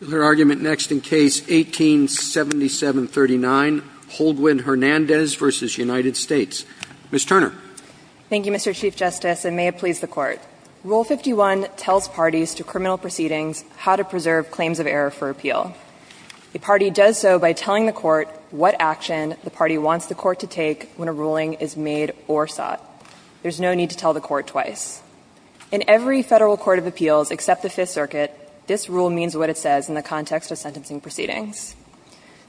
Ms. Turner. Thank you, Mr. Chief Justice, and may it please the Court. Rule 51 tells parties to criminal proceedings how to preserve claims of error for appeal. A party does so by telling the court what action the party wants the court to take when a ruling is made or sought. There is no need to tell the court twice. In every Federal Court of Appeals except the Fifth Circuit, this rule means what it says.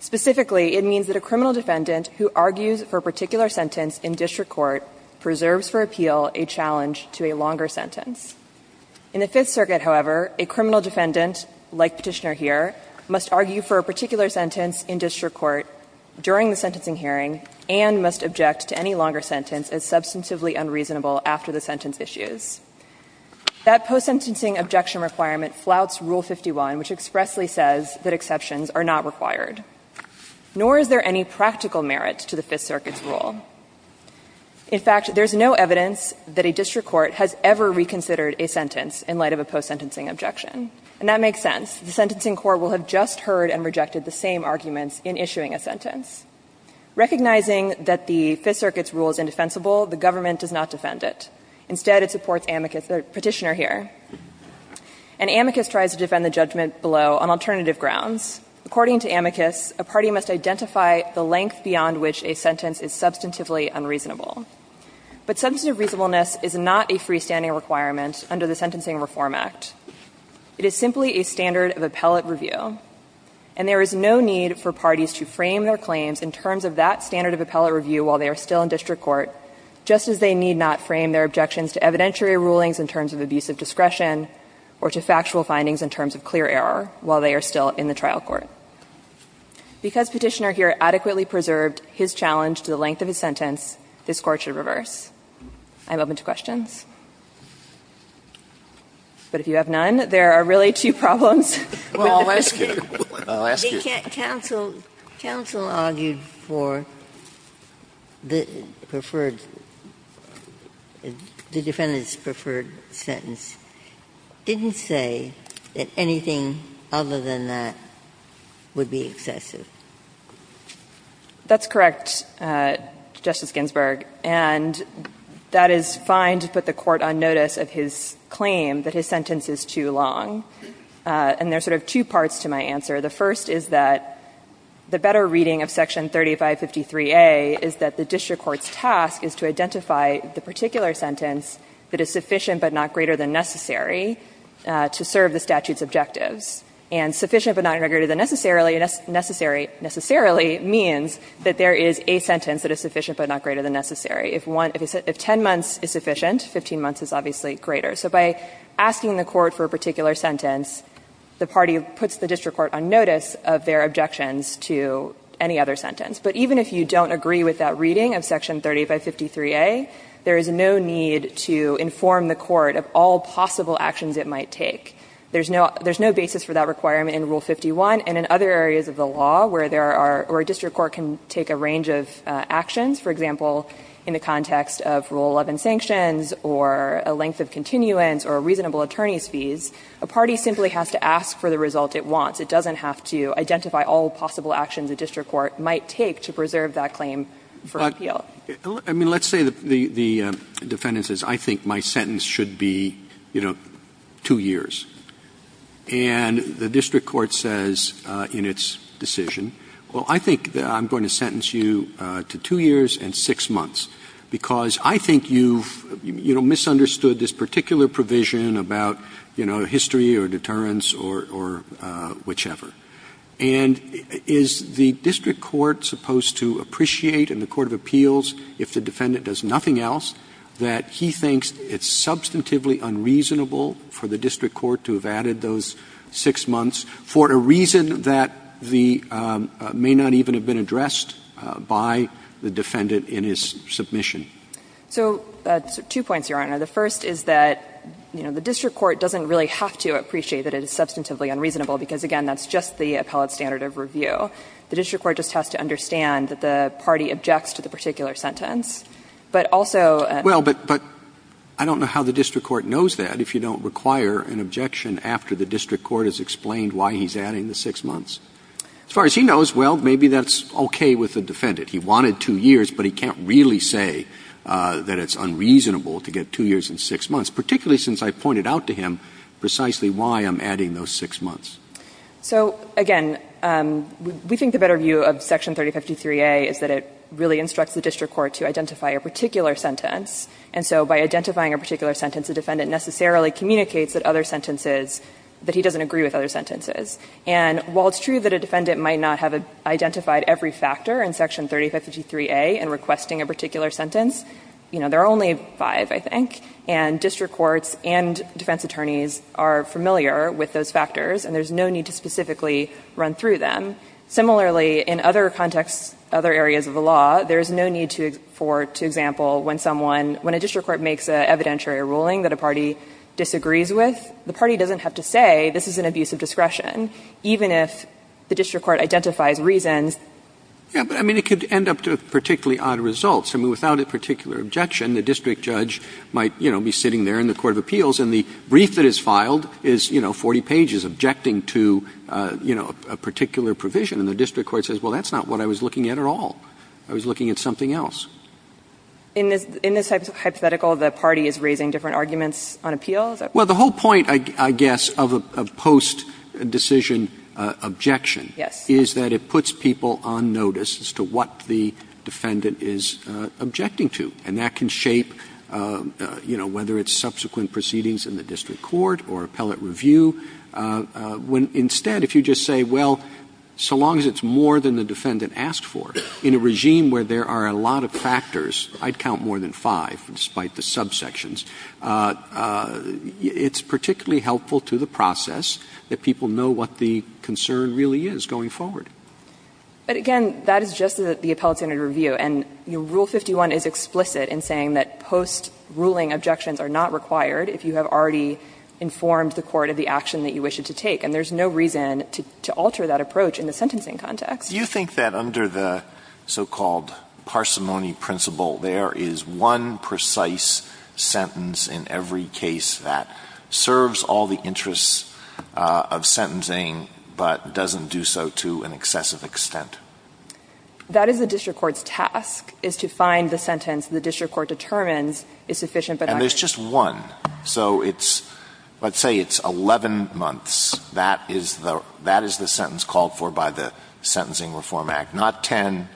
Specifically, it means that a criminal defendant who argues for a particular sentence in district court preserves for appeal a challenge to a longer sentence. In the Fifth Circuit, however, a criminal defendant, like Petitioner here, must argue for a particular sentence in district court during the sentencing hearing and must object to any longer sentence as substantively unreasonable after the sentence is issued. That post-sentencing objection requirement flouts Rule 51, which expressly says that exceptions are not required. Nor is there any practical merit to the Fifth Circuit's rule. In fact, there is no evidence that a district court has ever reconsidered a sentence in light of a post-sentencing objection. And that makes sense. The sentencing court will have just heard and rejected the same arguments in issuing a sentence. Recognizing that the Fifth Circuit's rule is indefensible, the government does not defend it. Instead, it supports Amicus or Petitioner here. And Amicus tries to defend the judgment below on alternative grounds. According to Amicus, a party must identify the length beyond which a sentence is substantively unreasonable. But substantive reasonableness is not a freestanding requirement under the Sentencing Reform Act. It is simply a standard of appellate review. And there is no need for parties to frame their claims in terms of that standard of appellate review while they are still in district court, just as they need not frame their objections to evidentiary rulings in terms of abusive discretion or to factual findings in terms of clear error while they are still in the trial court. Because Petitioner here adequately preserved his challenge to the length of his sentence, this Court should reverse. I'm open to questions. But if you have none, there are really two problems. Sotomayor, counsel argued for the preferred, the defendant's preferred sentence. It didn't say that anything other than that would be excessive. That's correct, Justice Ginsburg. And that is fine to put the Court on notice of his claim that his sentence is too long. And there are sort of two parts to my answer. The first is that the better reading of Section 3553a is that the district court's task is to identify the particular sentence that is sufficient but not greater than necessary to serve the statute's objectives. And sufficient but not greater than necessarily means that there is a sentence that is sufficient but not greater than necessary. If 10 months is sufficient, 15 months is obviously greater. So by asking the court for a particular sentence, the party puts the district court on notice of their objections to any other sentence. But even if you don't agree with that reading of Section 3553a, there is no need to inform the court of all possible actions it might take. There's no basis for that requirement in Rule 51 and in other areas of the law where there are or a district court can take a range of actions, for example, in the context of Rule 11 sanctions or a length of continuance or a reasonable attorney's fees. A party simply has to ask for the result it wants. It doesn't have to identify all possible actions a district court might take to preserve that claim for appeal. Roberts' I mean, let's say the defendant says, I think my sentence should be, you know, 2 years. And the district court says in its decision, well, I think that I'm going to sentence you to 2 years and 6 months, because I think you've, you know, misunderstood this particular provision about, you know, history or deterrence or whichever. And is the district court supposed to appreciate in the court of appeals, if the defendant does nothing else, that he thinks it's substantively unreasonable for the district court to have added those 6 months for a reason that the may not even have been addressed by the defendant in his submission? So two points, Your Honor. The first is that, you know, the district court doesn't really have to appreciate that it is substantively unreasonable, because, again, that's just the appellate standard of review. The district court just has to understand that the party objects to the particular sentence. But also at the same time, the district court has to understand that the party has to understand that the party objects to the particular sentence. But also at the same time, the district court has to understand that the party has to be able to say, maybe that's okay with the defendant. He wanted 2 years, but he can't really say that it's unreasonable to get 2 years and 6 months, particularly since I pointed out to him precisely why I'm adding those 6 months. So again, we think the better view of Section 3053a is that it really instructs the district court to identify a particular sentence. And so by identifying a particular sentence, the defendant necessarily communicates that other sentences that he doesn't agree with other sentences. And while it's true that a defendant might not have identified every factor in Section 3053a in requesting a particular sentence, you know, there are only 5, I think. And district courts and defense attorneys are familiar with those factors, and there's no need to specifically run through them. Similarly, in other contexts, other areas of the law, there's no need to, for example, when someone, when a district court makes an evidentiary ruling that a defendant has discretion, even if the district court identifies reasons. Roberts. Yeah, but I mean, it could end up to particularly odd results. I mean, without a particular objection, the district judge might, you know, be sitting there in the court of appeals, and the brief that is filed is, you know, 40 pages objecting to, you know, a particular provision. And the district court says, well, that's not what I was looking at at all. I was looking at something else. In this hypothetical, the party is raising different arguments on appeals? Well, the whole point, I guess, of a post-decision objection is that it puts people on notice as to what the defendant is objecting to. And that can shape, you know, whether it's subsequent proceedings in the district court or appellate review. When instead, if you just say, well, so long as it's more than the defendant asked for, in a regime where there are a lot of factors, I'd count more than five, despite the subsections, it's particularly helpful to the process that people know what the concern really is going forward. But, again, that is just the appellate standard review, and Rule 51 is explicit in saying that post-ruling objections are not required if you have already informed the court of the action that you wish it to take, and there's no reason to alter that approach in the sentencing context. Alito, do you think that under the so-called parsimony principle, there is one precise sentence in every case that serves all the interests of sentencing, but doesn't do so to an excessive extent? That is the district court's task, is to find the sentence the district court determines is sufficient, but not great. And there's just one. So it's – let's say it's 11 months. That is the sentence called for by the Sentencing Reform Act. Not 10,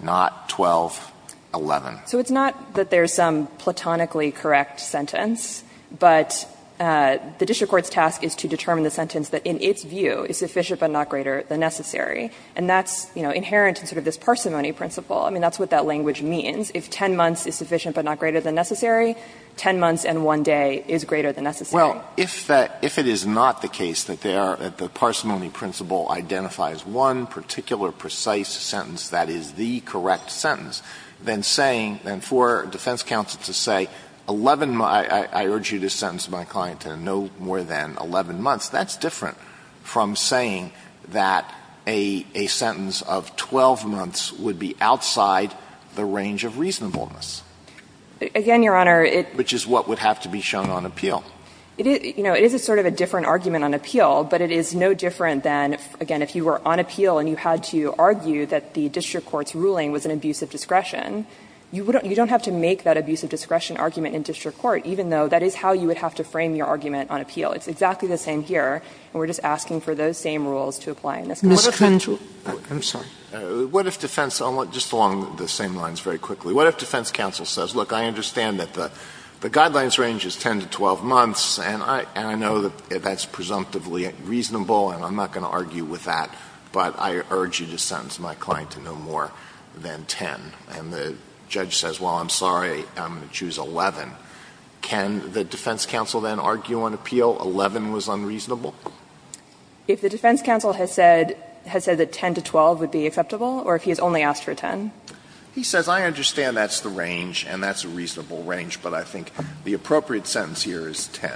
not 12, 11. So it's not that there's some platonically correct sentence, but the district court's task is to determine the sentence that in its view is sufficient, but not greater than necessary. And that's, you know, inherent in sort of this parsimony principle. I mean, that's what that language means. If 10 months is sufficient, but not greater than necessary, 10 months and one day is greater than necessary. Well, if that – if it is not the case that there – that the parsimony principle identifies one particular precise sentence that is the correct sentence, then saying – then for defense counsel to say 11 – I urge you to sentence my client to no more than 11 months, that's different from saying that a sentence of 12 months would be outside the range of reasonableness. Again, Your Honor, it – Which is what would have to be shown on appeal. It is – you know, it is a sort of a different argument on appeal, but it is no different than, again, if you were on appeal and you had to argue that the district court's ruling was an abuse of discretion, you wouldn't – you don't have to make that abuse of discretion argument in district court, even though that is how you would have to frame your argument on appeal. It's exactly the same here, and we're just asking for those same rules to apply in this case. I'm sorry. What if defense – just along the same lines very quickly. What if defense counsel says, look, I understand that the guidelines range is 10 to 12 months, and I – and I know that that's presumptively reasonable, and I'm not going to argue with that, but I urge you to sentence my client to no more than 10, and the judge says, well, I'm sorry, I'm going to choose 11. Can the defense counsel then argue on appeal 11 was unreasonable? If the defense counsel has said – has said that 10 to 12 would be acceptable, or if he has only asked for 10? He says, I understand that's the range, and that's a reasonable range, but I think the appropriate sentence here is 10.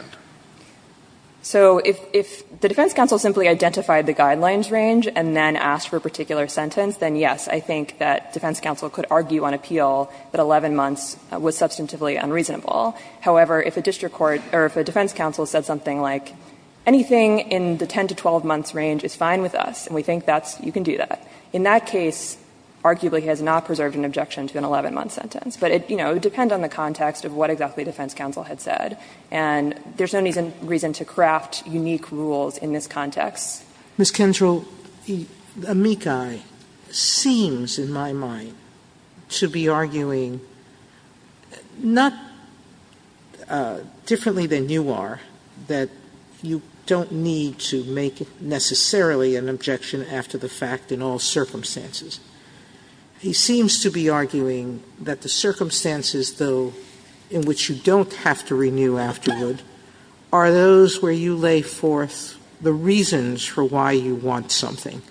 So if – if the defense counsel simply identified the guidelines range and then asked for a particular sentence, then yes, I think that defense counsel could argue on appeal that 11 months was substantively unreasonable. However, if a district court – or if a defense counsel said something like, anything in the 10 to 12 months range is fine with us, and we think that's – you can do that, in that case, arguably he has not preserved an objection to an 11-month sentence. But it, you know, would depend on the context of what exactly the defense counsel had said, and there's no reason to craft unique rules in this context. Sotomayor, Ms. Kensal, Amikai seems in my mind to be arguing, not differently than you are, that you don't need to make necessarily an objection after the fact in all circumstances. He seems to be arguing that the circumstances, though, in which you don't have to renew afterward are those where you lay forth the reasons for why you want something.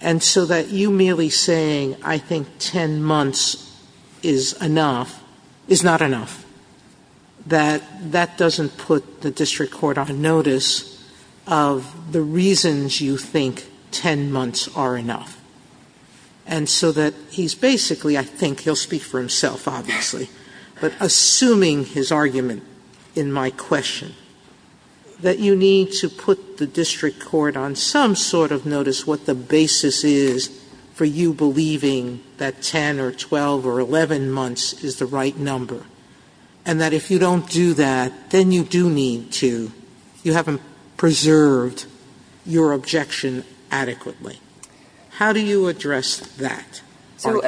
And so that you merely saying, I think 10 months is enough, is not enough. That – that doesn't put the district court on notice of the reasons you think 10 months are enough. And so that he's basically, I think, he'll speak for himself, obviously, but assuming his argument in my question, that you need to put the district court on some sort of notice what the basis is for you believing that 10 or 12 or 11 months is the right number, and that if you don't do that, then you do need to, you haven't preserved your objection adequately. How do you address that? Kensal,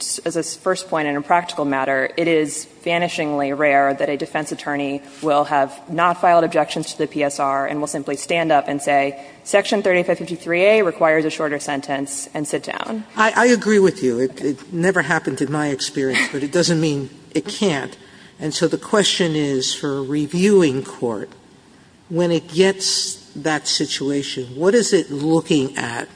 So as a first point in a practical matter, it is vanishingly rare that a defense attorney will have not filed objections to the PSR and will simply stand up and say, Section 3553A requires a shorter sentence, and sit down. Sotomayor I agree with you. It never happened in my experience, but it doesn't mean it can't. And so the question is for a reviewing court, when it gets that situation, what is it looking at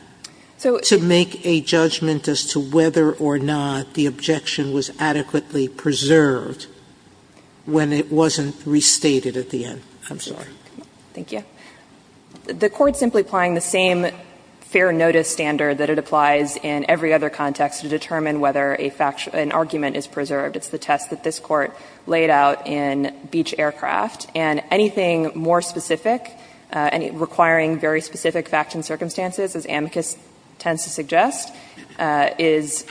to make a judgment as to whether or not the objection was adequately preserved when it wasn't restated at the end? I'm sorry. Kensal, Thank you. The Court simply applying the same fair notice standard that it applies in every other context to determine whether a fact, an argument is preserved. It's the test that this Court laid out in Beach Aircraft. And anything more specific, requiring very specific facts and circumstances, as amicus tends to suggest, is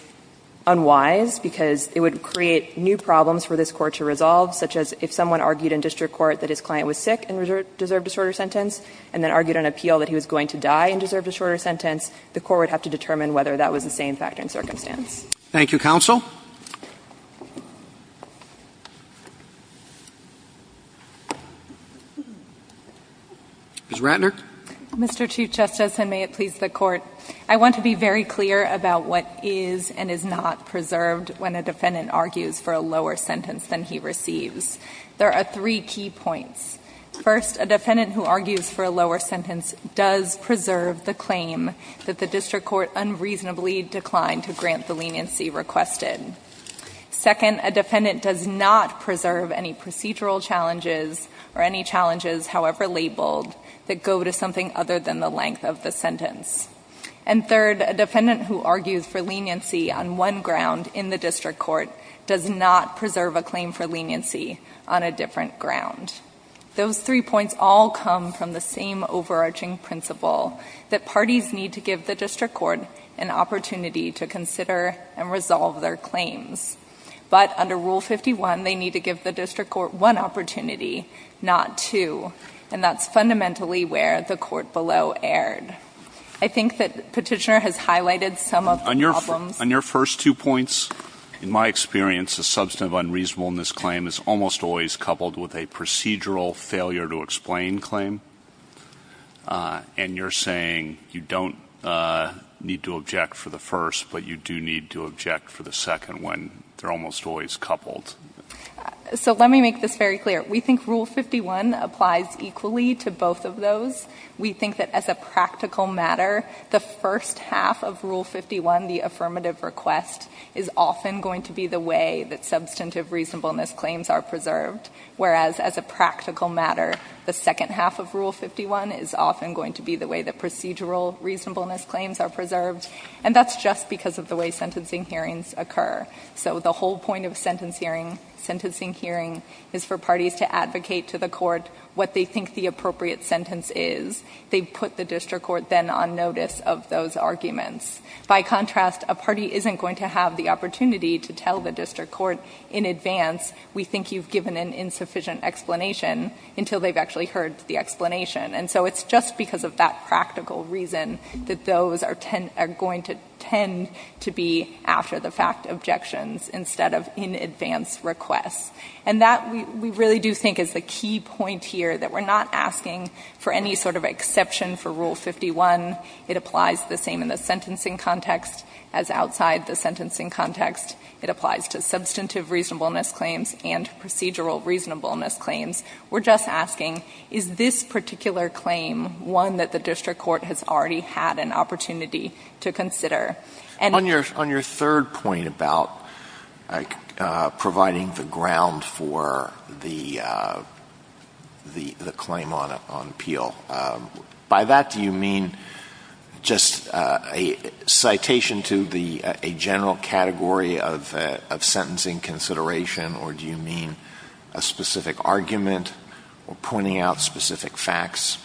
unwise, because it would create new problems for this Court to resolve, such as if someone argued in district court that his client was sick and deserved a shorter sentence, and then argued on appeal that he was going to die and deserved a shorter sentence, the Court would have to determine whether that was the same fact and circumstance. Thank you, counsel. Ms. Ratner. Mr. Chief Justice, and may it please the Court, I want to be very clear about what is and is not preserved when a defendant argues for a lower sentence than he receives. There are three key points. First, a defendant who argues for a lower sentence does preserve the claim that the district court unreasonably declined to grant the leniency requested. Second, a defendant does not preserve any procedural challenges or any challenges, however labeled, that go to something other than the length of the sentence. And third, a defendant who argues for leniency on one ground in the district court does not preserve a claim for leniency on a different ground. Those three points all come from the same overarching principle, that parties need to give the district court an opportunity to consider and resolve their claims. But under Rule 51, they need to give the district court one opportunity, not two. And that's fundamentally where the court below erred. I think that Petitioner has highlighted some of the problems. On your first two points, in my experience, a substantive unreasonableness claim is almost always coupled with a procedural failure to explain claim. And you're saying you don't need to object for the first, but you do need to object for the second one. They're almost always coupled. So let me make this very clear. We think Rule 51 applies equally to both of those. We think that as a practical matter, the first half of Rule 51, the affirmative request, is often going to be the way that substantive reasonableness claims are preserved. Whereas as a practical matter, the second half of Rule 51 is often going to be the way that procedural reasonableness claims are preserved. And that's just because of the way sentencing hearings occur. So the whole point of sentencing hearing is for parties to advocate to the court what they think the appropriate sentence is. They put the district court then on notice of those arguments. By contrast, a party isn't going to have the opportunity to tell the district court in advance, we think you've given an insufficient explanation, until they've actually heard the explanation. And so it's just because of that practical reason that those are going to tend to be after the fact objections instead of in advance requests. And that we really do think is the key point here, that we're not asking for any sort of exception for Rule 51. It applies the same in the sentencing context as outside the sentencing context. It applies to substantive reasonableness claims and procedural reasonableness claims. We're just asking, is this particular claim one that the district court has already had an opportunity to consider? And- On your third point about providing the ground for the claim on appeal, by that do you mean just a citation to a general category of sentencing consideration? Or do you mean a specific argument or pointing out specific facts?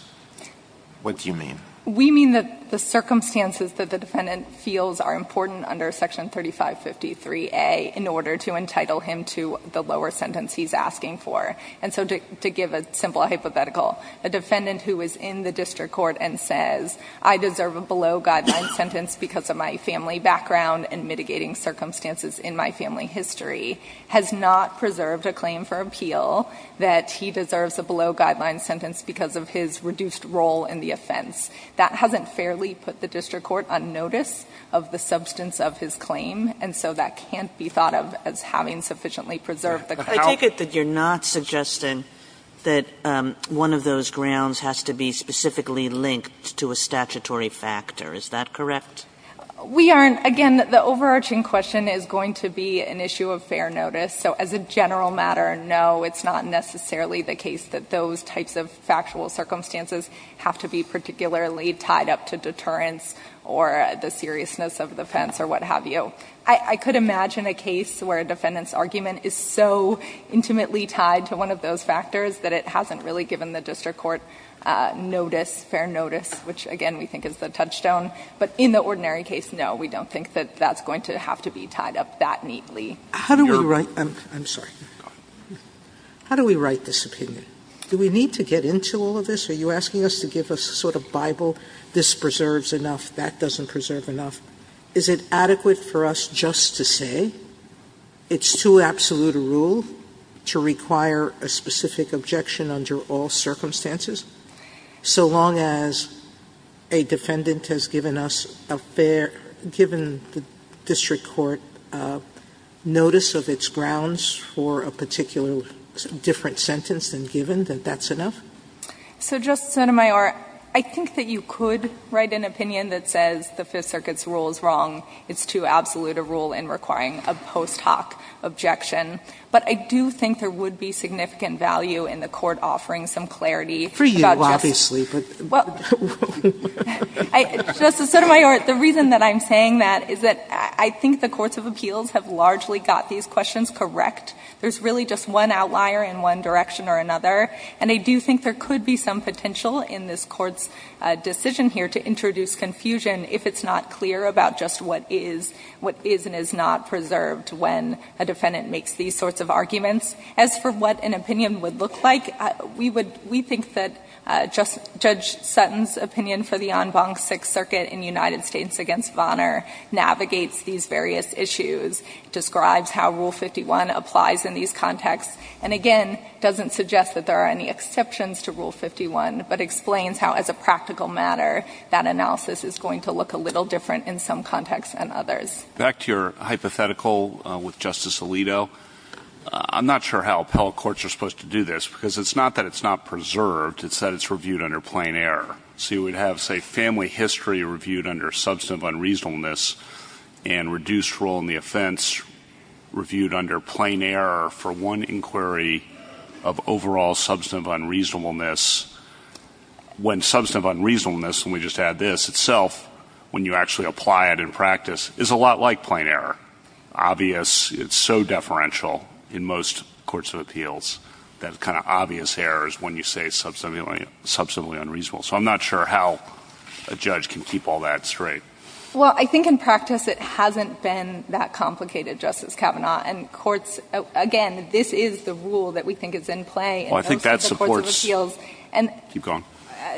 What do you mean? We mean that the circumstances that the defendant feels are important under section 3553A in order to entitle him to the lower sentence he's asking for. And so to give a simple hypothetical, a defendant who is in the district court and says, I deserve a below guideline sentence because of my family background and mitigating circumstances in my family history, has not preserved a claim for appeal that he deserves a below guideline sentence because of his reduced role in the offense. That hasn't fairly put the district court on notice of the substance of his claim. And so that can't be thought of as having sufficiently preserved the- I take it that you're not suggesting that one of those grounds has to be specifically linked to a statutory factor, is that correct? We aren't. Again, the overarching question is going to be an issue of fair notice. So as a general matter, no, it's not necessarily the case that those types of factual circumstances have to be particularly tied up to deterrence or the seriousness of the offense or what have you. I could imagine a case where a defendant's argument is so intimately tied to one of those factors that it hasn't really given the district court notice, fair notice, which again we think is the touchstone. But in the ordinary case, no, we don't think that that's going to have to be tied up that neatly. Sotomayor, I'm sorry. How do we write this opinion? Do we need to get into all of this? Are you asking us to give a sort of Bible, this preserves enough, that doesn't preserve enough? Is it adequate for us just to say it's too absolute a rule to require a specific objection under all circumstances, so long as a defendant has given us a fair, given the district court notice of its grounds for a particular different sentence than given that that's enough? So, Justice Sotomayor, I think that you could write an opinion that says the Fifth Circuit's rule is wrong. It's too absolute a rule in requiring a post hoc objection. But I do think there would be significant value in the Court offering some clarity about Justice Sotomayor. Sotomayor, the reason that I'm saying that is that I think the courts of appeals have largely got these questions correct. There's really just one outlier in one direction or another, and I do think there could be some potential in this Court's decision here to introduce confusion if it's not clear about just what is, what is and is not preserved when a defendant makes these sorts of arguments. As for what an opinion would look like, we would, we think that Judge Sutton's opinion for the en banc Sixth Circuit in United States against Vonner navigates these various issues, describes how Rule 51 applies in these contexts, and again, doesn't suggest that there are any exceptions to Rule 51, but explains how, as a practical matter, that analysis is going to look a little different in some contexts than others. Back to your hypothetical with Justice Alito, I'm not sure how appellate courts are supposed to do this, because it's not that it's not preserved, it's that it's reviewed under plain error. So you would have, say, family history reviewed under substantive unreasonableness, and reduced role in the offense reviewed under plain error for one inquiry of overall substantive unreasonableness. When substantive unreasonableness, let me just add this, itself, when you actually apply it in practice, is a lot like plain error. Obvious, it's so deferential in most courts of appeals, that kind of obvious errors when you say substantively unreasonable. So I'm not sure how a judge can keep all that straight. Well, I think in practice it hasn't been that complicated, Justice Kavanaugh, and courts, again, this is the rule that we think is in play in most of the courts of appeals, and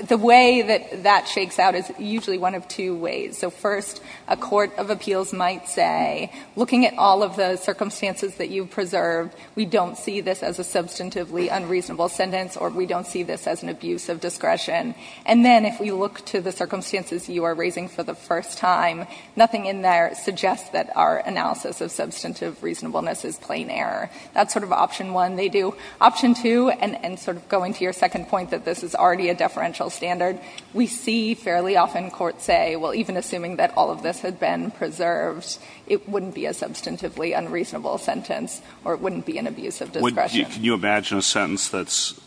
the way that that shakes out is usually one of two ways. So first, a court of appeals might say, looking at all of the circumstances that you've preserved, we don't see this as a substantively unreasonable sentence, or we don't see this as an abuse of discretion. And then if we look to the circumstances you are raising for the first time, nothing in there suggests that our analysis of substantive reasonableness is plain error. That's sort of option one they do. Option two, and sort of going to your second point that this is already a deferential standard, we see fairly often courts say, well, even assuming that all of this had been preserved, it wouldn't be a substantively unreasonable sentence, or it wouldn't be an abuse of discretion. Can you imagine a sentence that's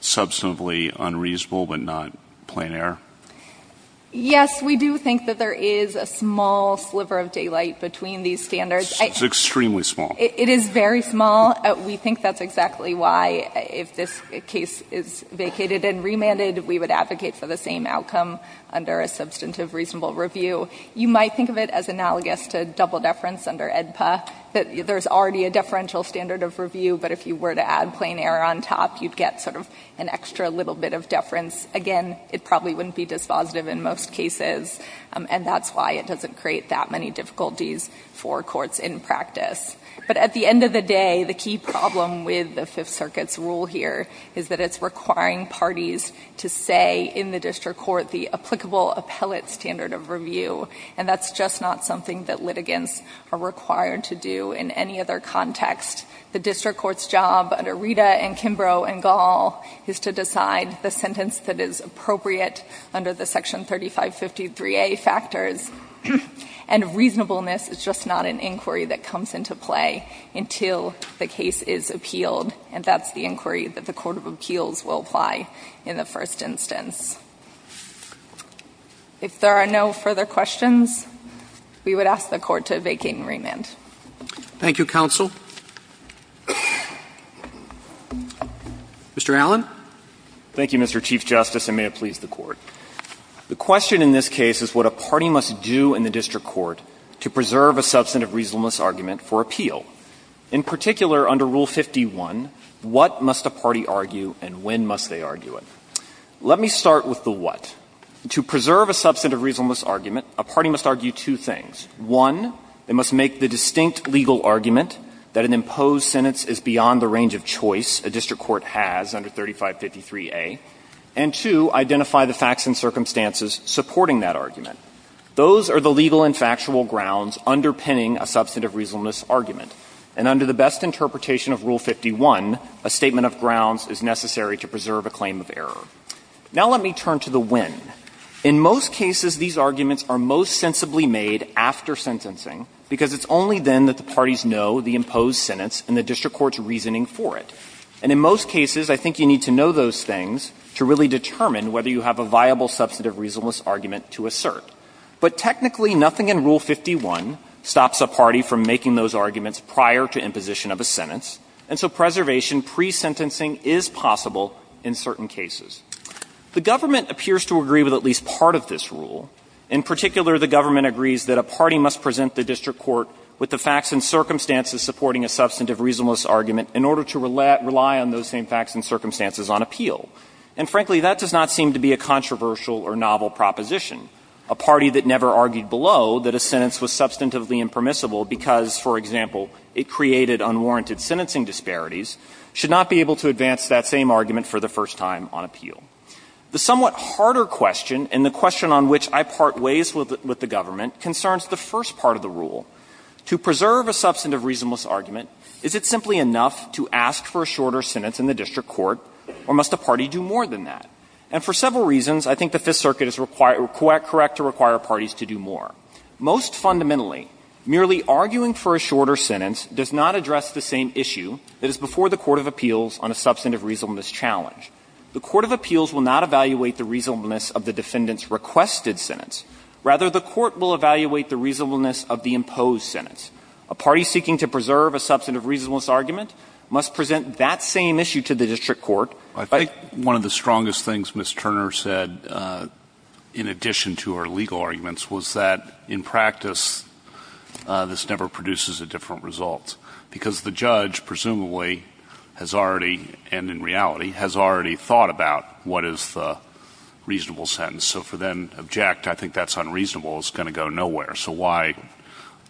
substantively unreasonable but not plain error? Yes, we do think that there is a small sliver of daylight between these standards. It's extremely small. It is very small. We think that's exactly why, if this case is vacated and remanded, we would advocate for the same outcome under a substantive reasonable review. You might think of it as analogous to double deference under AEDPA, that there's already a deferential standard of review, but if you were to add plain error on top, you'd get sort of an extra little bit of deference. Again, it probably wouldn't be dispositive in most cases, and that's why it doesn't create that many difficulties for courts in practice. But at the end of the day, the key problem with the Fifth Circuit's rule here is that it's requiring parties to say in the district court the applicable appellate standard of review, and that's just not something that litigants are required to do in any other context. The district court's job under Rita and Kimbrough and Gall is to decide the sentence that is appropriate under the Section 3553A factors, and reasonableness is just not an inquiry that comes into play until the case is appealed, and that's the inquiry that the court of appeals will apply in the first instance. If there are no further questions, we would ask the Court to vacate and remand. Roberts. Thank you, counsel. Mr. Allen. Thank you, Mr. Chief Justice, and may it please the Court. The question in this case is what a party must do in the district court to preserve a substantive reasonableness argument for appeal. In particular, under Rule 51, what must a party argue and when must they argue it? Let me start with the what. To preserve a substantive reasonableness argument, a party must argue two things. One, they must make the distinct legal argument that an imposed sentence is beyond the range of choice a district court has under 3553A, and two, identify the factors and circumstances supporting that argument. Those are the legal and factual grounds underpinning a substantive reasonableness argument, and under the best interpretation of Rule 51, a statement of grounds is necessary to preserve a claim of error. Now let me turn to the when. In most cases, these arguments are most sensibly made after sentencing, because it's only then that the parties know the imposed sentence and the district court's reasoning for it. And in most cases, I think you need to know those things to really determine whether you have a viable substantive reasonableness argument to assert. But technically, nothing in Rule 51 stops a party from making those arguments prior to imposition of a sentence, and so preservation pre-sentencing is possible in certain cases. The government appears to agree with at least part of this rule. In particular, the government agrees that a party must present the district court with the facts and circumstances supporting a substantive reasonableness argument in order to rely on those same facts and circumstances on appeal. And frankly, that does not seem to be a controversial or novel proposition. A party that never argued below that a sentence was substantively impermissible because, for example, it created unwarranted sentencing disparities should not be able to advance that same argument for the first time on appeal. The somewhat harder question, and the question on which I part ways with the government, concerns the first part of the rule. To preserve a substantive reasonableness argument, is it simply enough to ask for a party to do more than that? And for several reasons, I think the Fifth Circuit is correct to require parties to do more. Most fundamentally, merely arguing for a shorter sentence does not address the same issue that is before the court of appeals on a substantive reasonableness challenge. The court of appeals will not evaluate the reasonableness of the defendant's requested sentence. Rather, the court will evaluate the reasonableness of the imposed sentence. A party seeking to preserve a substantive reasonableness argument must present that same issue to the district court. I think one of the strongest things Ms. Turner said, in addition to her legal arguments, was that, in practice, this never produces a different result. Because the judge, presumably, has already, and in reality, has already thought about what is the reasonable sentence. So for them to object, I think that's unreasonable, it's going to go nowhere. So why,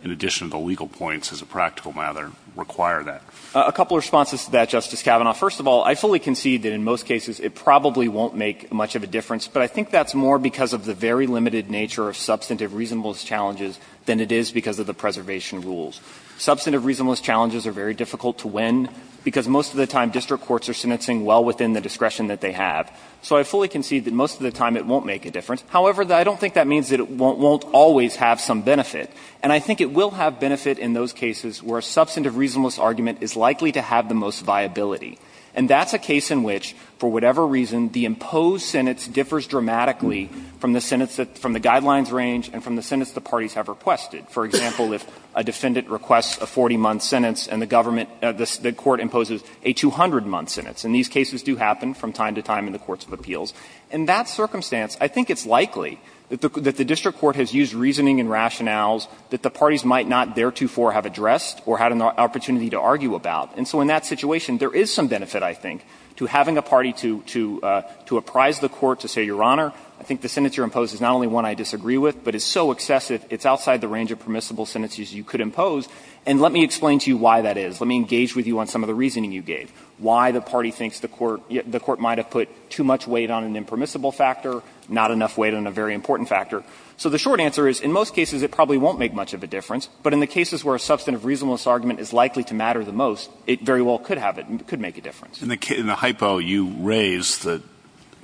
in addition to the legal points as a practical matter, require that? A couple of responses to that, Justice Kavanaugh. First of all, I fully concede that, in most cases, it probably won't make much of a difference, but I think that's more because of the very limited nature of substantive reasonableness challenges than it is because of the preservation rules. Substantive reasonableness challenges are very difficult to win, because most of the time, district courts are sentencing well within the discretion that they have. So I fully concede that, most of the time, it won't make a difference. However, I don't think that means that it won't always have some benefit. And I think it will have benefit in those cases where a substantive reasonableness argument is likely to have the most viability. And that's a case in which, for whatever reason, the imposed sentence differs dramatically from the sentence that the guidelines range and from the sentence the parties have requested. For example, if a defendant requests a 40-month sentence and the government of the court imposes a 200-month sentence, and these cases do happen from time to time in the courts of appeals. In that circumstance, I think it's likely that the district court has used reasoning and rationales that the parties might not theretofore have addressed or had an opportunity to argue about. And so in that situation, there is some benefit, I think, to having a party to apprise the court to say, Your Honor, I think the sentence you imposed is not only one I disagree with, but it's so excessive, it's outside the range of permissible sentences you could impose, and let me explain to you why that is. Let me engage with you on some of the reasoning you gave, why the party thinks the court might have put too much weight on an impermissible factor, not enough weight on a very important factor. So the short answer is, in most cases, it probably won't make much of a difference. But in the cases where a substantive reasonableness argument is likely to matter the most, it very well could have it and could make a difference. In the hypo, you raise that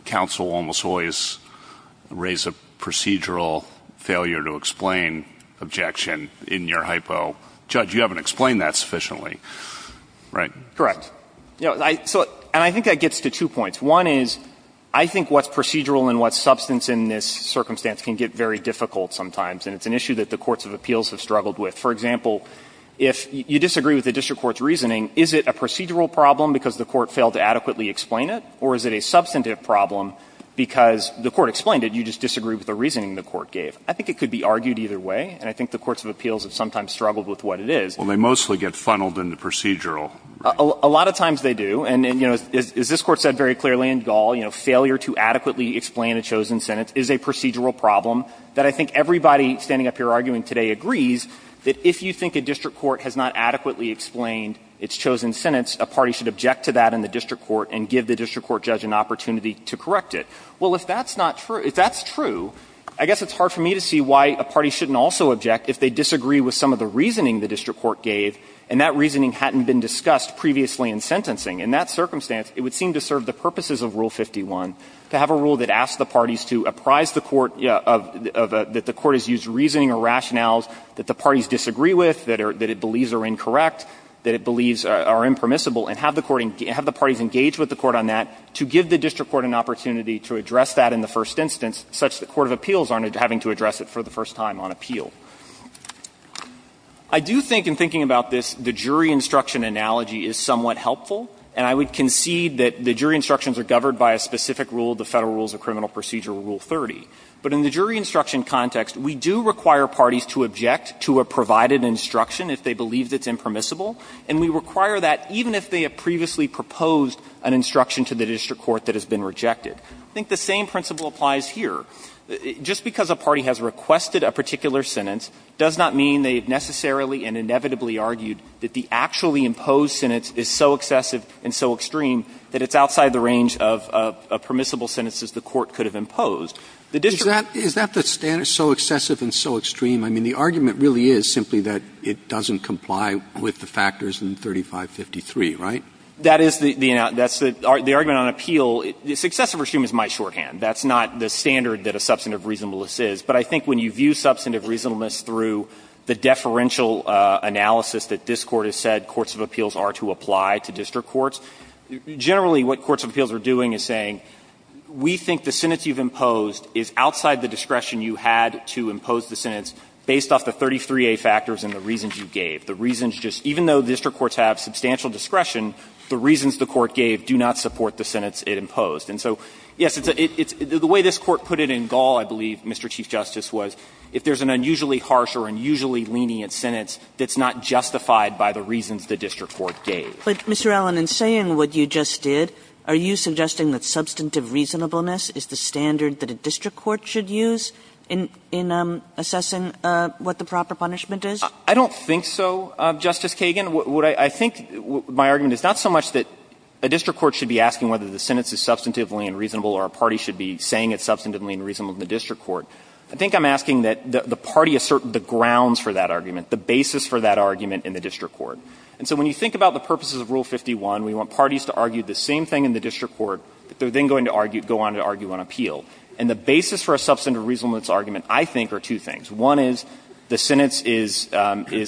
counsel almost always raise a procedural failure to explain objection in your hypo. Judge, you haven't explained that sufficiently, right? Correct. And I think that gets to two points. One is, I think what's procedural and what's substance in this circumstance can get very difficult sometimes. And it's an issue that the courts of appeals have struggled with. For example, if you disagree with the district court's reasoning, is it a procedural problem because the court failed to adequately explain it, or is it a substantive problem because the court explained it, you just disagree with the reasoning the court gave? I think it could be argued either way, and I think the courts of appeals have sometimes struggled with what it is. Well, they mostly get funneled into procedural. A lot of times they do. And, you know, as this Court said very clearly in Gall, you know, failure to adequately explain a chosen sentence is a procedural problem that I think everybody standing up here arguing today agrees that if you think a district court has not adequately explained its chosen sentence, a party should object to that in the district court and give the district court judge an opportunity to correct it. Well, if that's not true, if that's true, I guess it's hard for me to see why a party shouldn't also object if they disagree with some of the reasoning the district court gave and that reasoning hadn't been discussed previously in sentencing. In that circumstance, it would seem to serve the purposes of Rule 51, to have a rule that asks the parties to apprise the court of the court has used reasoning or rationales that the parties disagree with, that it believes are incorrect, that it believes are impermissible, and have the parties engage with the court on that, to give the district court an opportunity to address that in the first instance, such that the court of appeals aren't having to address it for the first time on appeal. I do think in thinking about this, the jury instruction analogy is somewhat helpful. And I would concede that the jury instructions are governed by a specific rule of the criminal procedure, Rule 30. But in the jury instruction context, we do require parties to object to a provided instruction if they believe that it's impermissible, and we require that even if they have previously proposed an instruction to the district court that has been rejected. I think the same principle applies here. Just because a party has requested a particular sentence does not mean they have necessarily and inevitably argued that the actually imposed sentence is so excessive and so extreme that it's outside the range of permissible sentences the court could have imposed. The district court could have imposed a particular sentence that is not permissible. I mean, the argument really is simply that it doesn't comply with the factors in 3553, right? That is the argument on appeal. Excessive or extreme is my shorthand. That's not the standard that a substantive reasonableness is. But I think when you view substantive reasonableness through the deferential analysis that this Court has said courts of appeals are to apply to district courts, generally what courts of appeals are doing is saying, we think the sentence you've imposed is outside the discretion you had to impose the sentence based off the 33A factors and the reasons you gave. The reasons just even though district courts have substantial discretion, the reasons the court gave do not support the sentence it imposed. And so, yes, it's a the way this Court put it in Gall, I believe, Mr. Chief Justice, was if there's an unusually harsh or unusually lenient sentence that's not justified by the reasons the district court gave. Kagan. But, Mr. Allen, in saying what you just did, are you suggesting that substantive reasonableness is the standard that a district court should use in assessing what the proper punishment is? I don't think so, Justice Kagan. I think my argument is not so much that a district court should be asking whether the sentence is substantively unreasonable or a party should be saying it substantively unreasonable to the district court. I think I'm asking that the party assert the grounds for that argument, the basis for that argument in the district court. And so when you think about the purposes of Rule 51, we want parties to argue the same thing in the district court, but they're then going to argue, go on to argue on appeal. And the basis for a substantive reasonableness argument, I think, are two things. One is the sentence is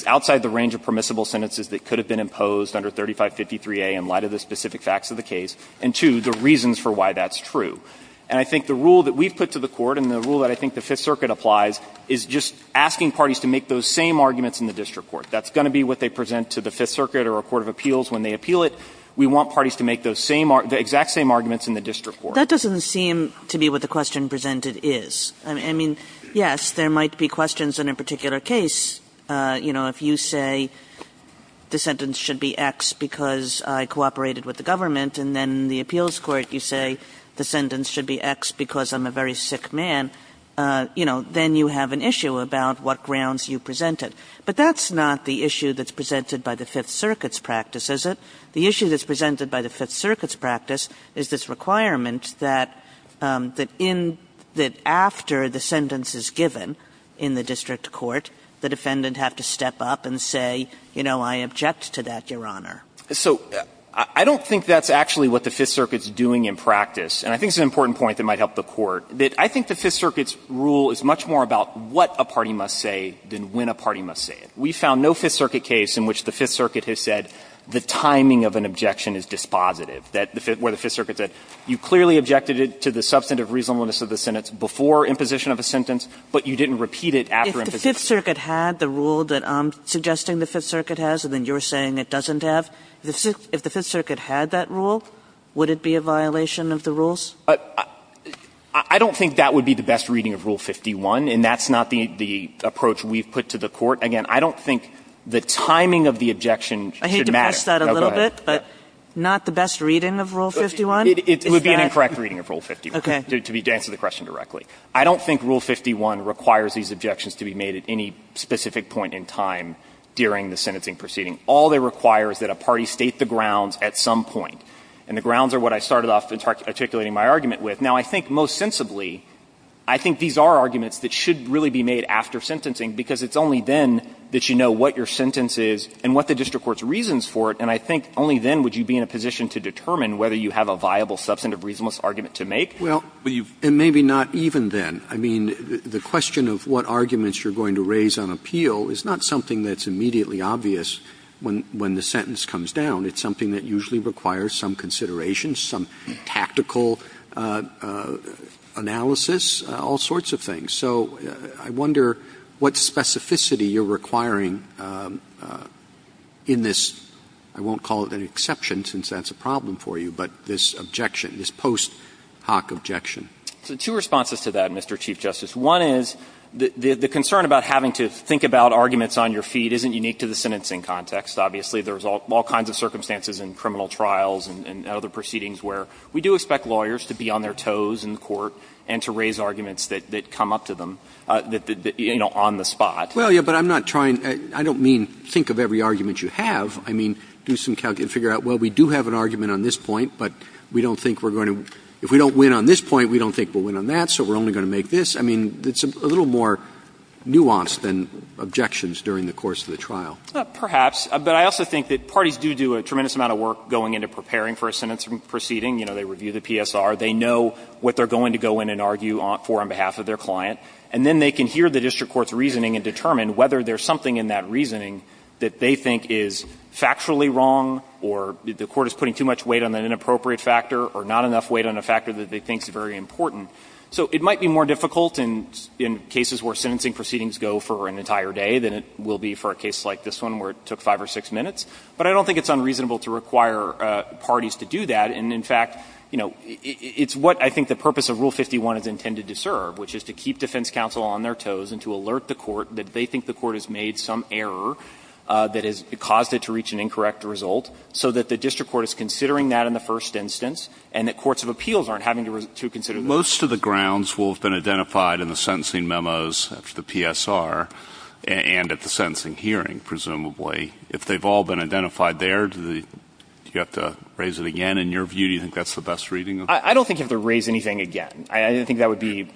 outside the range of permissible sentences that could have been imposed under 3553A in light of the specific facts of the case, and two, the reasons for why that's true. And I think the rule that we've put to the Court, and the rule that I think the Fifth Circuit applies, is just asking parties to make those same arguments in the district court. That's going to be what they present to the Fifth Circuit or a court of appeals when they appeal it. We want parties to make those same, the exact same arguments in the district court. Kagan That doesn't seem to be what the question presented is. I mean, yes, there might be questions in a particular case, you know, if you say the sentence should be X because I cooperated with the government, and then in the appeals court you say the sentence should be X because I'm a very sick man, you know, then you have an issue about what grounds you presented. But that's not the issue that's presented by the Fifth Circuit's practice, is it? The issue that's presented by the Fifth Circuit's practice is this requirement that in the – after the sentence is given in the district court, the defendant have to step up and say, you know, I object to that, Your Honor. So I don't think that's actually what the Fifth Circuit's doing in practice. And I think it's an important point that might help the Court, that I think the Fifth Circuit's rule is much more about what a party must say than when a party must say it. We found no Fifth Circuit case in which the Fifth Circuit has said the timing of an objection is dispositive, that the – where the Fifth Circuit said you clearly objected it to the substantive reasonableness of the sentence before imposition of a sentence, but you didn't repeat it after imposition. Kagan If the Fifth Circuit had the rule that I'm suggesting the Fifth Circuit has and then you're saying it doesn't have, if the Fifth Circuit had that rule, would it be a violation of the rules? I don't think that would be the best reading of Rule 51, and that's not the approach we've put to the Court. Again, I don't think the timing of the objection should matter. I hate to press that a little bit, but not the best reading of Rule 51? It would be an incorrect reading of Rule 51. Okay. To answer the question directly. I don't think Rule 51 requires these objections to be made at any specific point in time during the sentencing proceeding. All it requires is that a party state the grounds at some point, and the grounds are what I started off articulating my argument with. Now, I think most sensibly, I think these are arguments that should really be made after sentencing, because it's only then that you know what your sentence is and what the district court's reasons for it, and I think only then would you be in a position to determine whether you have a viable substantive reasonableness argument to make. Well, and maybe not even then. I mean, the question of what arguments you're going to raise on appeal is not something that's immediately obvious when the sentence comes down. It's something that usually requires some consideration, some tactical analysis, all sorts of things. So I wonder what specificity you're requiring in this, I won't call it an exception since that's a problem for you, but this objection, this post-Hock objection. So two responses to that, Mr. Chief Justice. One is the concern about having to think about arguments on your feet isn't unique to the sentencing context. Obviously, there's all kinds of circumstances in criminal trials and other proceedings where we do expect lawyers to be on their toes in court and to raise arguments that come up to them, you know, on the spot. Well, yes, but I'm not trying to – I don't mean think of every argument you have. I mean, do some calculation, figure out, well, we do have an argument on this point, but we don't think we're going to – if we don't win on this point, we don't think we'll win on that, so we're only going to make this. I mean, it's a little more nuanced than objections during the course of the trial. Perhaps. But I also think that parties do do a tremendous amount of work going into preparing for a sentencing proceeding. You know, they review the PSR. They know what they're going to go in and argue for on behalf of their client. And then they can hear the district court's reasoning and determine whether there's something in that reasoning that they think is factually wrong or the court is putting too much weight on an inappropriate factor or not enough weight on a factor that they think is very important. So it might be more difficult in cases where sentencing proceedings go for an entire day than it will be for a case like this one where it took five or six minutes. But I don't think it's unreasonable to require parties to do that. And in fact, you know, it's what I think the purpose of Rule 51 is intended to serve, which is to keep defense counsel on their toes and to alert the court that they think the court has made some error that has caused it to reach an incorrect result, so that the district court is considering that in the first instance and that courts of appeals aren't having to consider those. Most of the grounds will have been identified in the sentencing memos, the PSR, and at the sentencing hearing, presumably. If they've all been identified there, do you have to raise it again? In your view, do you think that's the best reading? I don't think you have to raise anything again. I don't think that would be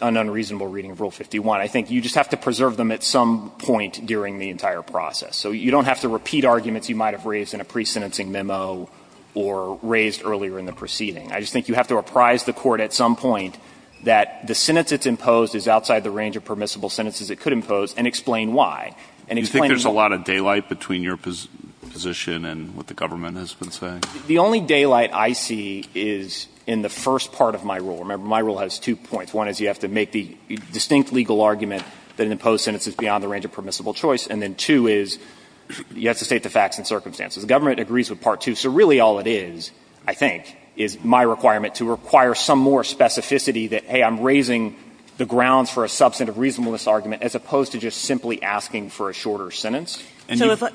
an unreasonable reading of Rule 51. I think you just have to preserve them at some point during the entire process. So you don't have to repeat arguments you might have raised in a presentencing memo or raised earlier in the proceeding. I just think you have to reprise the court at some point that the sentence it's imposed is outside the range of permissible sentences it could impose and explain why. And explain the rule. Do you think there's a lot of daylight between your position and what the government has been saying? The only daylight I see is in the first part of my rule. Remember, my rule has two points. One is you have to make the distinct legal argument that an imposed sentence is beyond the range of permissible choice, and then two is you have to state the facts and circumstances. The government agrees with part two. So really all it is, I think, is my requirement to require some more specificity that, hey, I'm raising the grounds for a substantive reasonableness argument as opposed to just simply asking for a shorter sentence. And you've got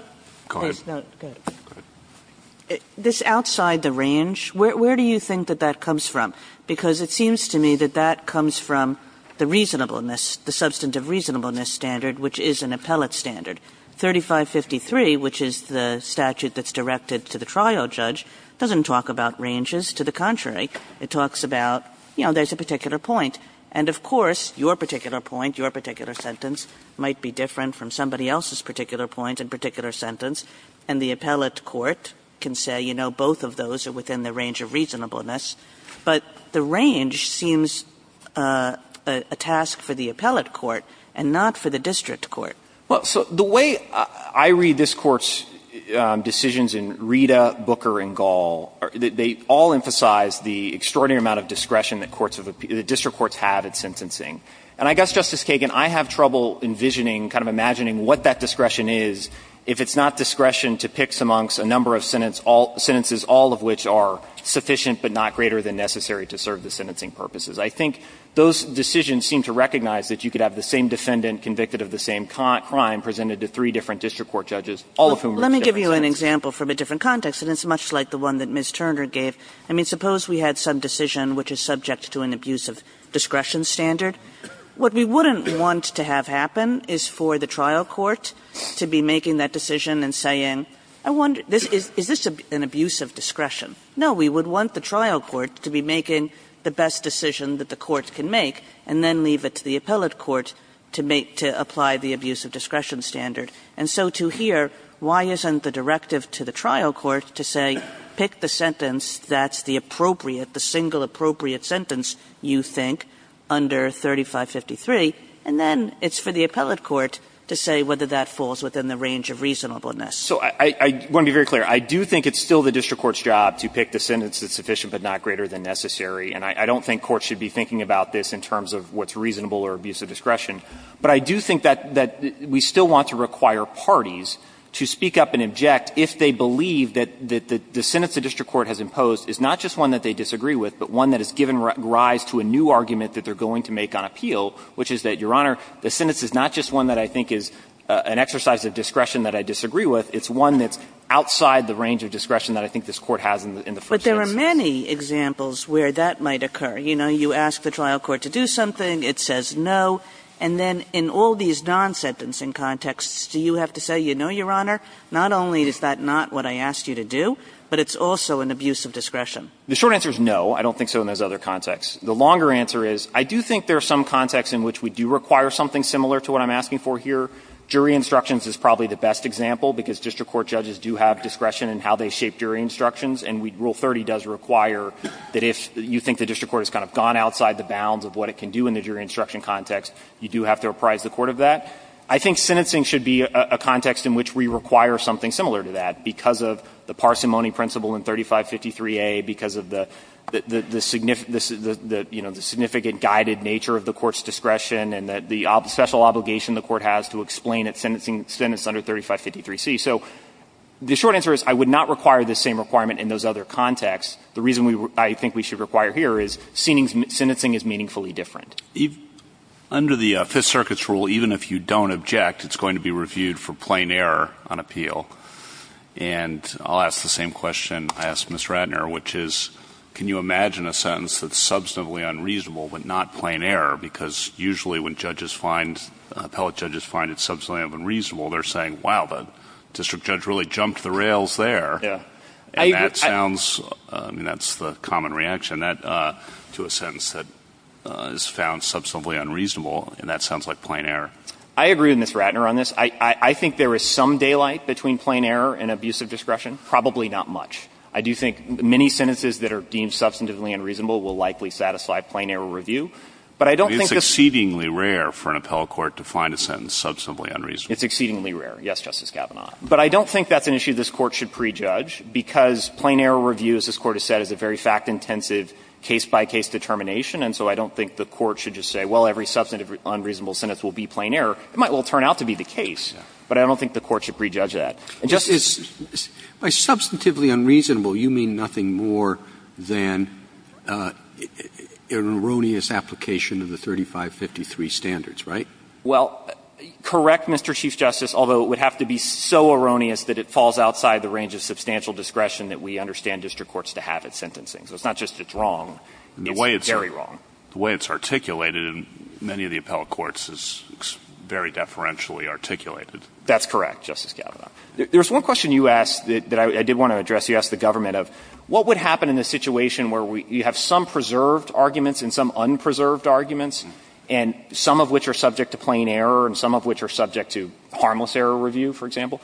to go ahead. This outside the range, where do you think that that comes from? Because it seems to me that that comes from the reasonableness, the substantive reasonableness standard, which is an appellate standard. 3553, which is the statute that's directed to the trial judge, doesn't talk about ranges. To the contrary, it talks about, you know, there's a particular point. And of course, your particular point, your particular sentence might be different from somebody else's particular point and particular sentence. And the appellate court can say, you know, both of those are within the range of reasonableness. But the range seems a task for the appellate court and not for the district court. Well, so the way I read this Court's decisions in Rita, Booker, and Gall, they all emphasize the extraordinary amount of discretion that courts have the district courts have at sentencing. And I guess, Justice Kagan, I have trouble envisioning, kind of imagining what that discretion is if it's not discretion to pick amongst a number of sentences, all sentences, all of which are sufficient but not greater than necessary to serve the sentencing purposes. I think those decisions seem to recognize that you could have the same defendant convicted of the same crime presented to three different district court judges, all of whom are different sentences. Kagan. Kagan. And it's much like the one that Ms. Turner gave. I mean, suppose we had some decision which is subject to an abuse of discretion standard. What we wouldn't want to have happen is for the trial court to be making that decision and saying, I wonder, is this an abuse of discretion? No, we would want the trial court to be making the best decision that the court can make and then leave it to the appellate court to make to apply the abuse of discretion standard. And so to here, why isn't the directive to the trial court to say pick the sentence that's the appropriate, the single appropriate sentence you think under 3553, and then it's for the appellate court to say whether that falls within the range of reasonable discretion? So I want to be very clear. I do think it's still the district court's job to pick the sentence that's sufficient but not greater than necessary. And I don't think courts should be thinking about this in terms of what's reasonable or abuse of discretion. But I do think that we still want to require parties to speak up and object if they believe that the sentence the district court has imposed is not just one that they disagree with, but one that has given rise to a new argument that they're going to make on appeal, which is that, Your Honor, the sentence is not just one that I think is an exercise of discretion that I disagree with, it's one that's outside the range of discretion that I think this Court has in the first instance. But there are many examples where that might occur. You know, you ask the trial court to do something, it says no, and then in all these non-sentencing contexts, do you have to say, you know, Your Honor, not only is that not what I asked you to do, but it's also an abuse of discretion? The short answer is no. I don't think so in those other contexts. The longer answer is I do think there are some contexts in which we do require something similar to what I'm asking for here. Jury instructions is probably the best example, because district court judges do have discretion in how they shape jury instructions, and Rule 30 does require that if you think the district court has kind of gone outside the bounds of what it can do in the jury instruction context, you do have to apprise the court of that. I think sentencing should be a context in which we require something similar to that, because of the parsimony principle in 3553a, because of the significant guided nature of the court's discretion and the special obligation the court has to explain its sentencing under 3553c. So the short answer is I would not require the same requirement in those other contexts. The reason I think we should require here is sentencing is meaningfully different. Under the Fifth Circuit's rule, even if you don't object, it's going to be reviewed for plain error on appeal. And I'll ask the same question I asked Ms. Ratner, which is, can you imagine a sentence that's substantively unreasonable, but not plain error, because usually when judges find, appellate judges find it substantively unreasonable, they're saying, wow, the district judge really jumped the rails there. And that sounds, I mean, that's the common reaction to a sentence that is found substantively unreasonable, and that sounds like plain error. I agree with Ms. Ratner on this. I think there is some daylight between plain error and abusive discretion, probably not much. I do think many sentences that are deemed substantively unreasonable will likely satisfy plain error review. But I don't think this is a very fact-intensive case-by-case determination, and so I don't think the Court should just say, well, every substantive unreasonable sentence will be plain error. It might well turn out to be the case, but I don't think the Court should prejudge that. And Justice Breyer? Roberts, by substantively unreasonable, you mean nothing more than an erroneous application of the 3553 standards, right? Well, correct, Mr. Chief Justice, although it would have to be so erroneous that it falls outside the range of substantial discretion that we understand district courts to have at sentencing. So it's not just it's wrong, it's very wrong. The way it's articulated in many of the appellate courts is very deferentially articulated. That's correct, Justice Kavanaugh. There's one question you asked that I did want to address. You asked the government of what would happen in a situation where we have some preserved arguments and some unpreserved arguments, and some of which are subject to plain error and some of which are subject to harmless error review, for example?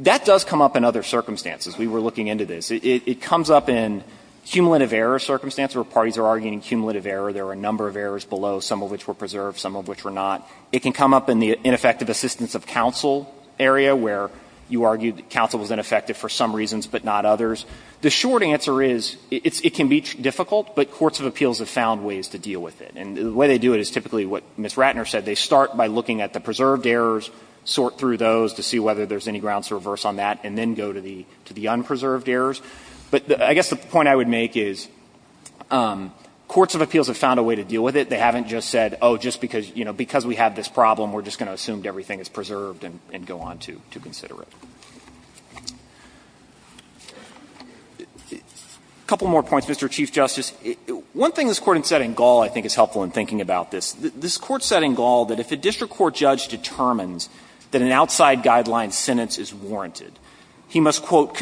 That does come up in other circumstances. We were looking into this. It comes up in cumulative error circumstances where parties are arguing cumulative error. There are a number of errors below, some of which were preserved, some of which were not. It can come up in the ineffective assistance of counsel area where you argue that counsel was ineffective for some reasons but not others. The short answer is it can be difficult, but courts of appeals have found ways to deal with it. And the way they do it is typically what Ms. Ratner said. They start by looking at the preserved errors, sort through those to see whether there's any grounds to reverse on that, and then go to the unpreserved errors. But I guess the point I would make is courts of appeals have found a way to deal with it. They haven't just said, oh, just because, you know, because we have this problem, we're just going to assume everything is preserved and go on to consider it. A couple more points, Mr. Chief Justice. One thing this Court has said in Gall, I think, is helpful in thinking about this. This Court said in Gall that if a district court judge determines that an outside guideline sentence is warranted, he must, quote, Well,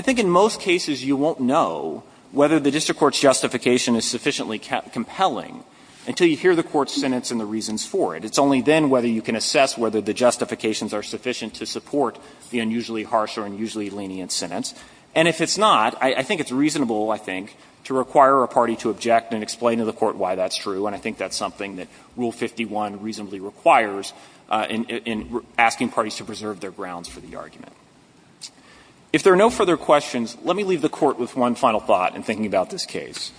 I think in most cases you won't know whether the district court's justification is sufficiently compelling until you hear the court's sentence and the reasons for it. It's only then whether you can assess whether the justifications are sufficient to support the unusually harsh or unusually lenient sentence. And if it's not, I think it's reasonable, I think, to require a party to object and explain to the court why that's true, and I think that's something that we should rule 51 reasonably requires in asking parties to preserve their grounds for the argument. If there are no further questions, let me leave the Court with one final thought in thinking about this case.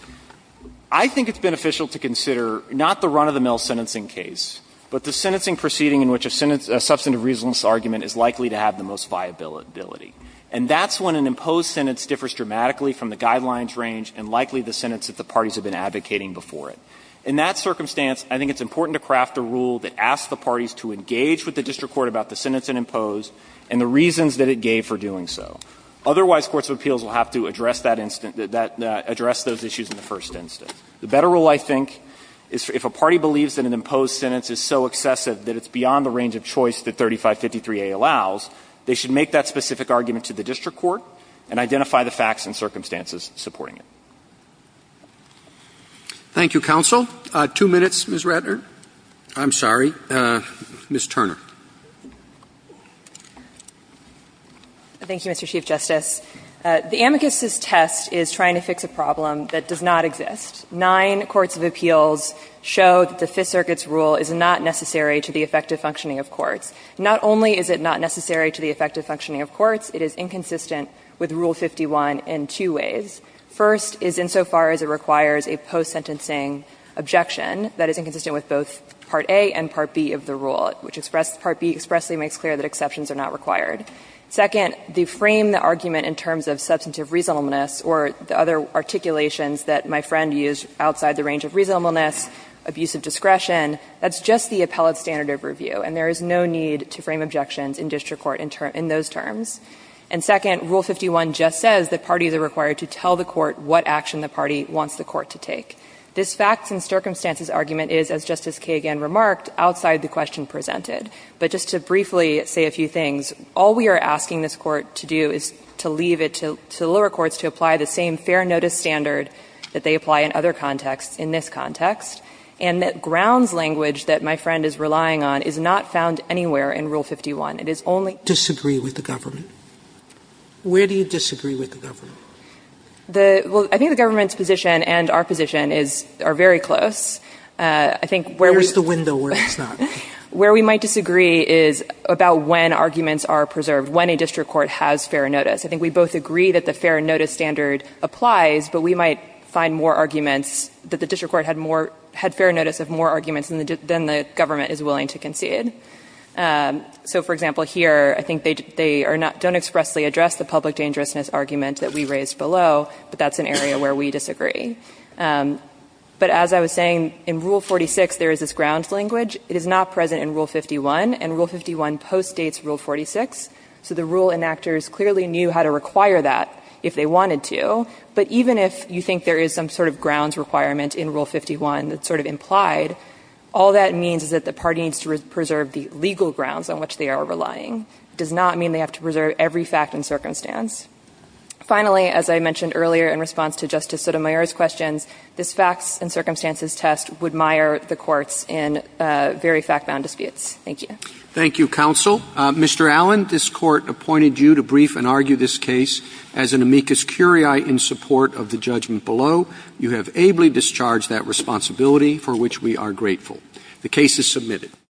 I think it's beneficial to consider not the run-of-the-mill sentencing case, but the sentencing proceeding in which a substantive reasonableness argument is likely to have the most viability, and that's when an imposed sentence differs dramatically from the guidelines range and likely the sentence that the parties have been advocating before it. In that circumstance, I think it's important to craft a rule that asks the parties to engage with the district court about the sentence in imposed and the reasons that it gave for doing so. Otherwise, courts of appeals will have to address that instance that address those issues in the first instance. The better rule, I think, is if a party believes that an imposed sentence is so excessive that it's beyond the range of choice that 3553a allows, they should make that specific argument to the district court and identify the facts and circumstances supporting it. Roberts. Thank you, counsel. Two minutes, Ms. Ratner. I'm sorry. Ms. Turner. Thank you, Mr. Chief Justice. The amicus's test is trying to fix a problem that does not exist. Nine courts of appeals show that the Fifth Circuit's rule is not necessary to the effective functioning of courts. Not only is it not necessary to the effective functioning of courts, it is inconsistent with Rule 51 in two ways. First is insofar as it requires a post-sentencing objection that is inconsistent with both Part A and Part B of the rule, which express the Part B expressly makes clear that exceptions are not required. Second, they frame the argument in terms of substantive reasonableness or the other articulations that my friend used outside the range of reasonableness, abuse of discretion. That's just the appellate standard of review, and there is no need to frame objections in district court in those terms. And second, Rule 51 just says that parties are required to tell the court what action the party wants the court to take. This facts and circumstances argument is, as Justice Kagan remarked, outside the question presented. But just to briefly say a few things, all we are asking this Court to do is to leave it to the lower courts to apply the same fair notice standard that they apply in other contexts in this context, and that grounds language that my friend is relying on is It is only in the case of the lower courts. Sotomayor, where do you disagree with the government? Well, I think the government's position and our position are very close. I think where we might disagree is about when arguments are preserved, when a district court has fair notice. I think we both agree that the fair notice standard applies, but we might find more arguments that the district court had more fair notice of more arguments than the government is willing to concede. So, for example, here, I think they are not don't expressly address the public dangerousness argument that we raised below, but that's an area where we disagree. But as I was saying, in Rule 46, there is this grounds language. It is not present in Rule 51, and Rule 51 postdates Rule 46. So the rule enactors clearly knew how to require that if they wanted to. But even if you think there is some sort of grounds requirement in Rule 51 that's sort of implied, all that means is that the party needs to preserve the legal grounds on which they are relying. It does not mean they have to preserve every fact and circumstance. Finally, as I mentioned earlier in response to Justice Sotomayor's questions, this facts and circumstances test would mire the courts in very fact-bound disputes. Thank you. Thank you, counsel. Mr. Allen, this Court appointed you to brief and argue this case as an amicus curiae in support of the judgment below. You have ably discharged that responsibility for which we are grateful. The case is submitted.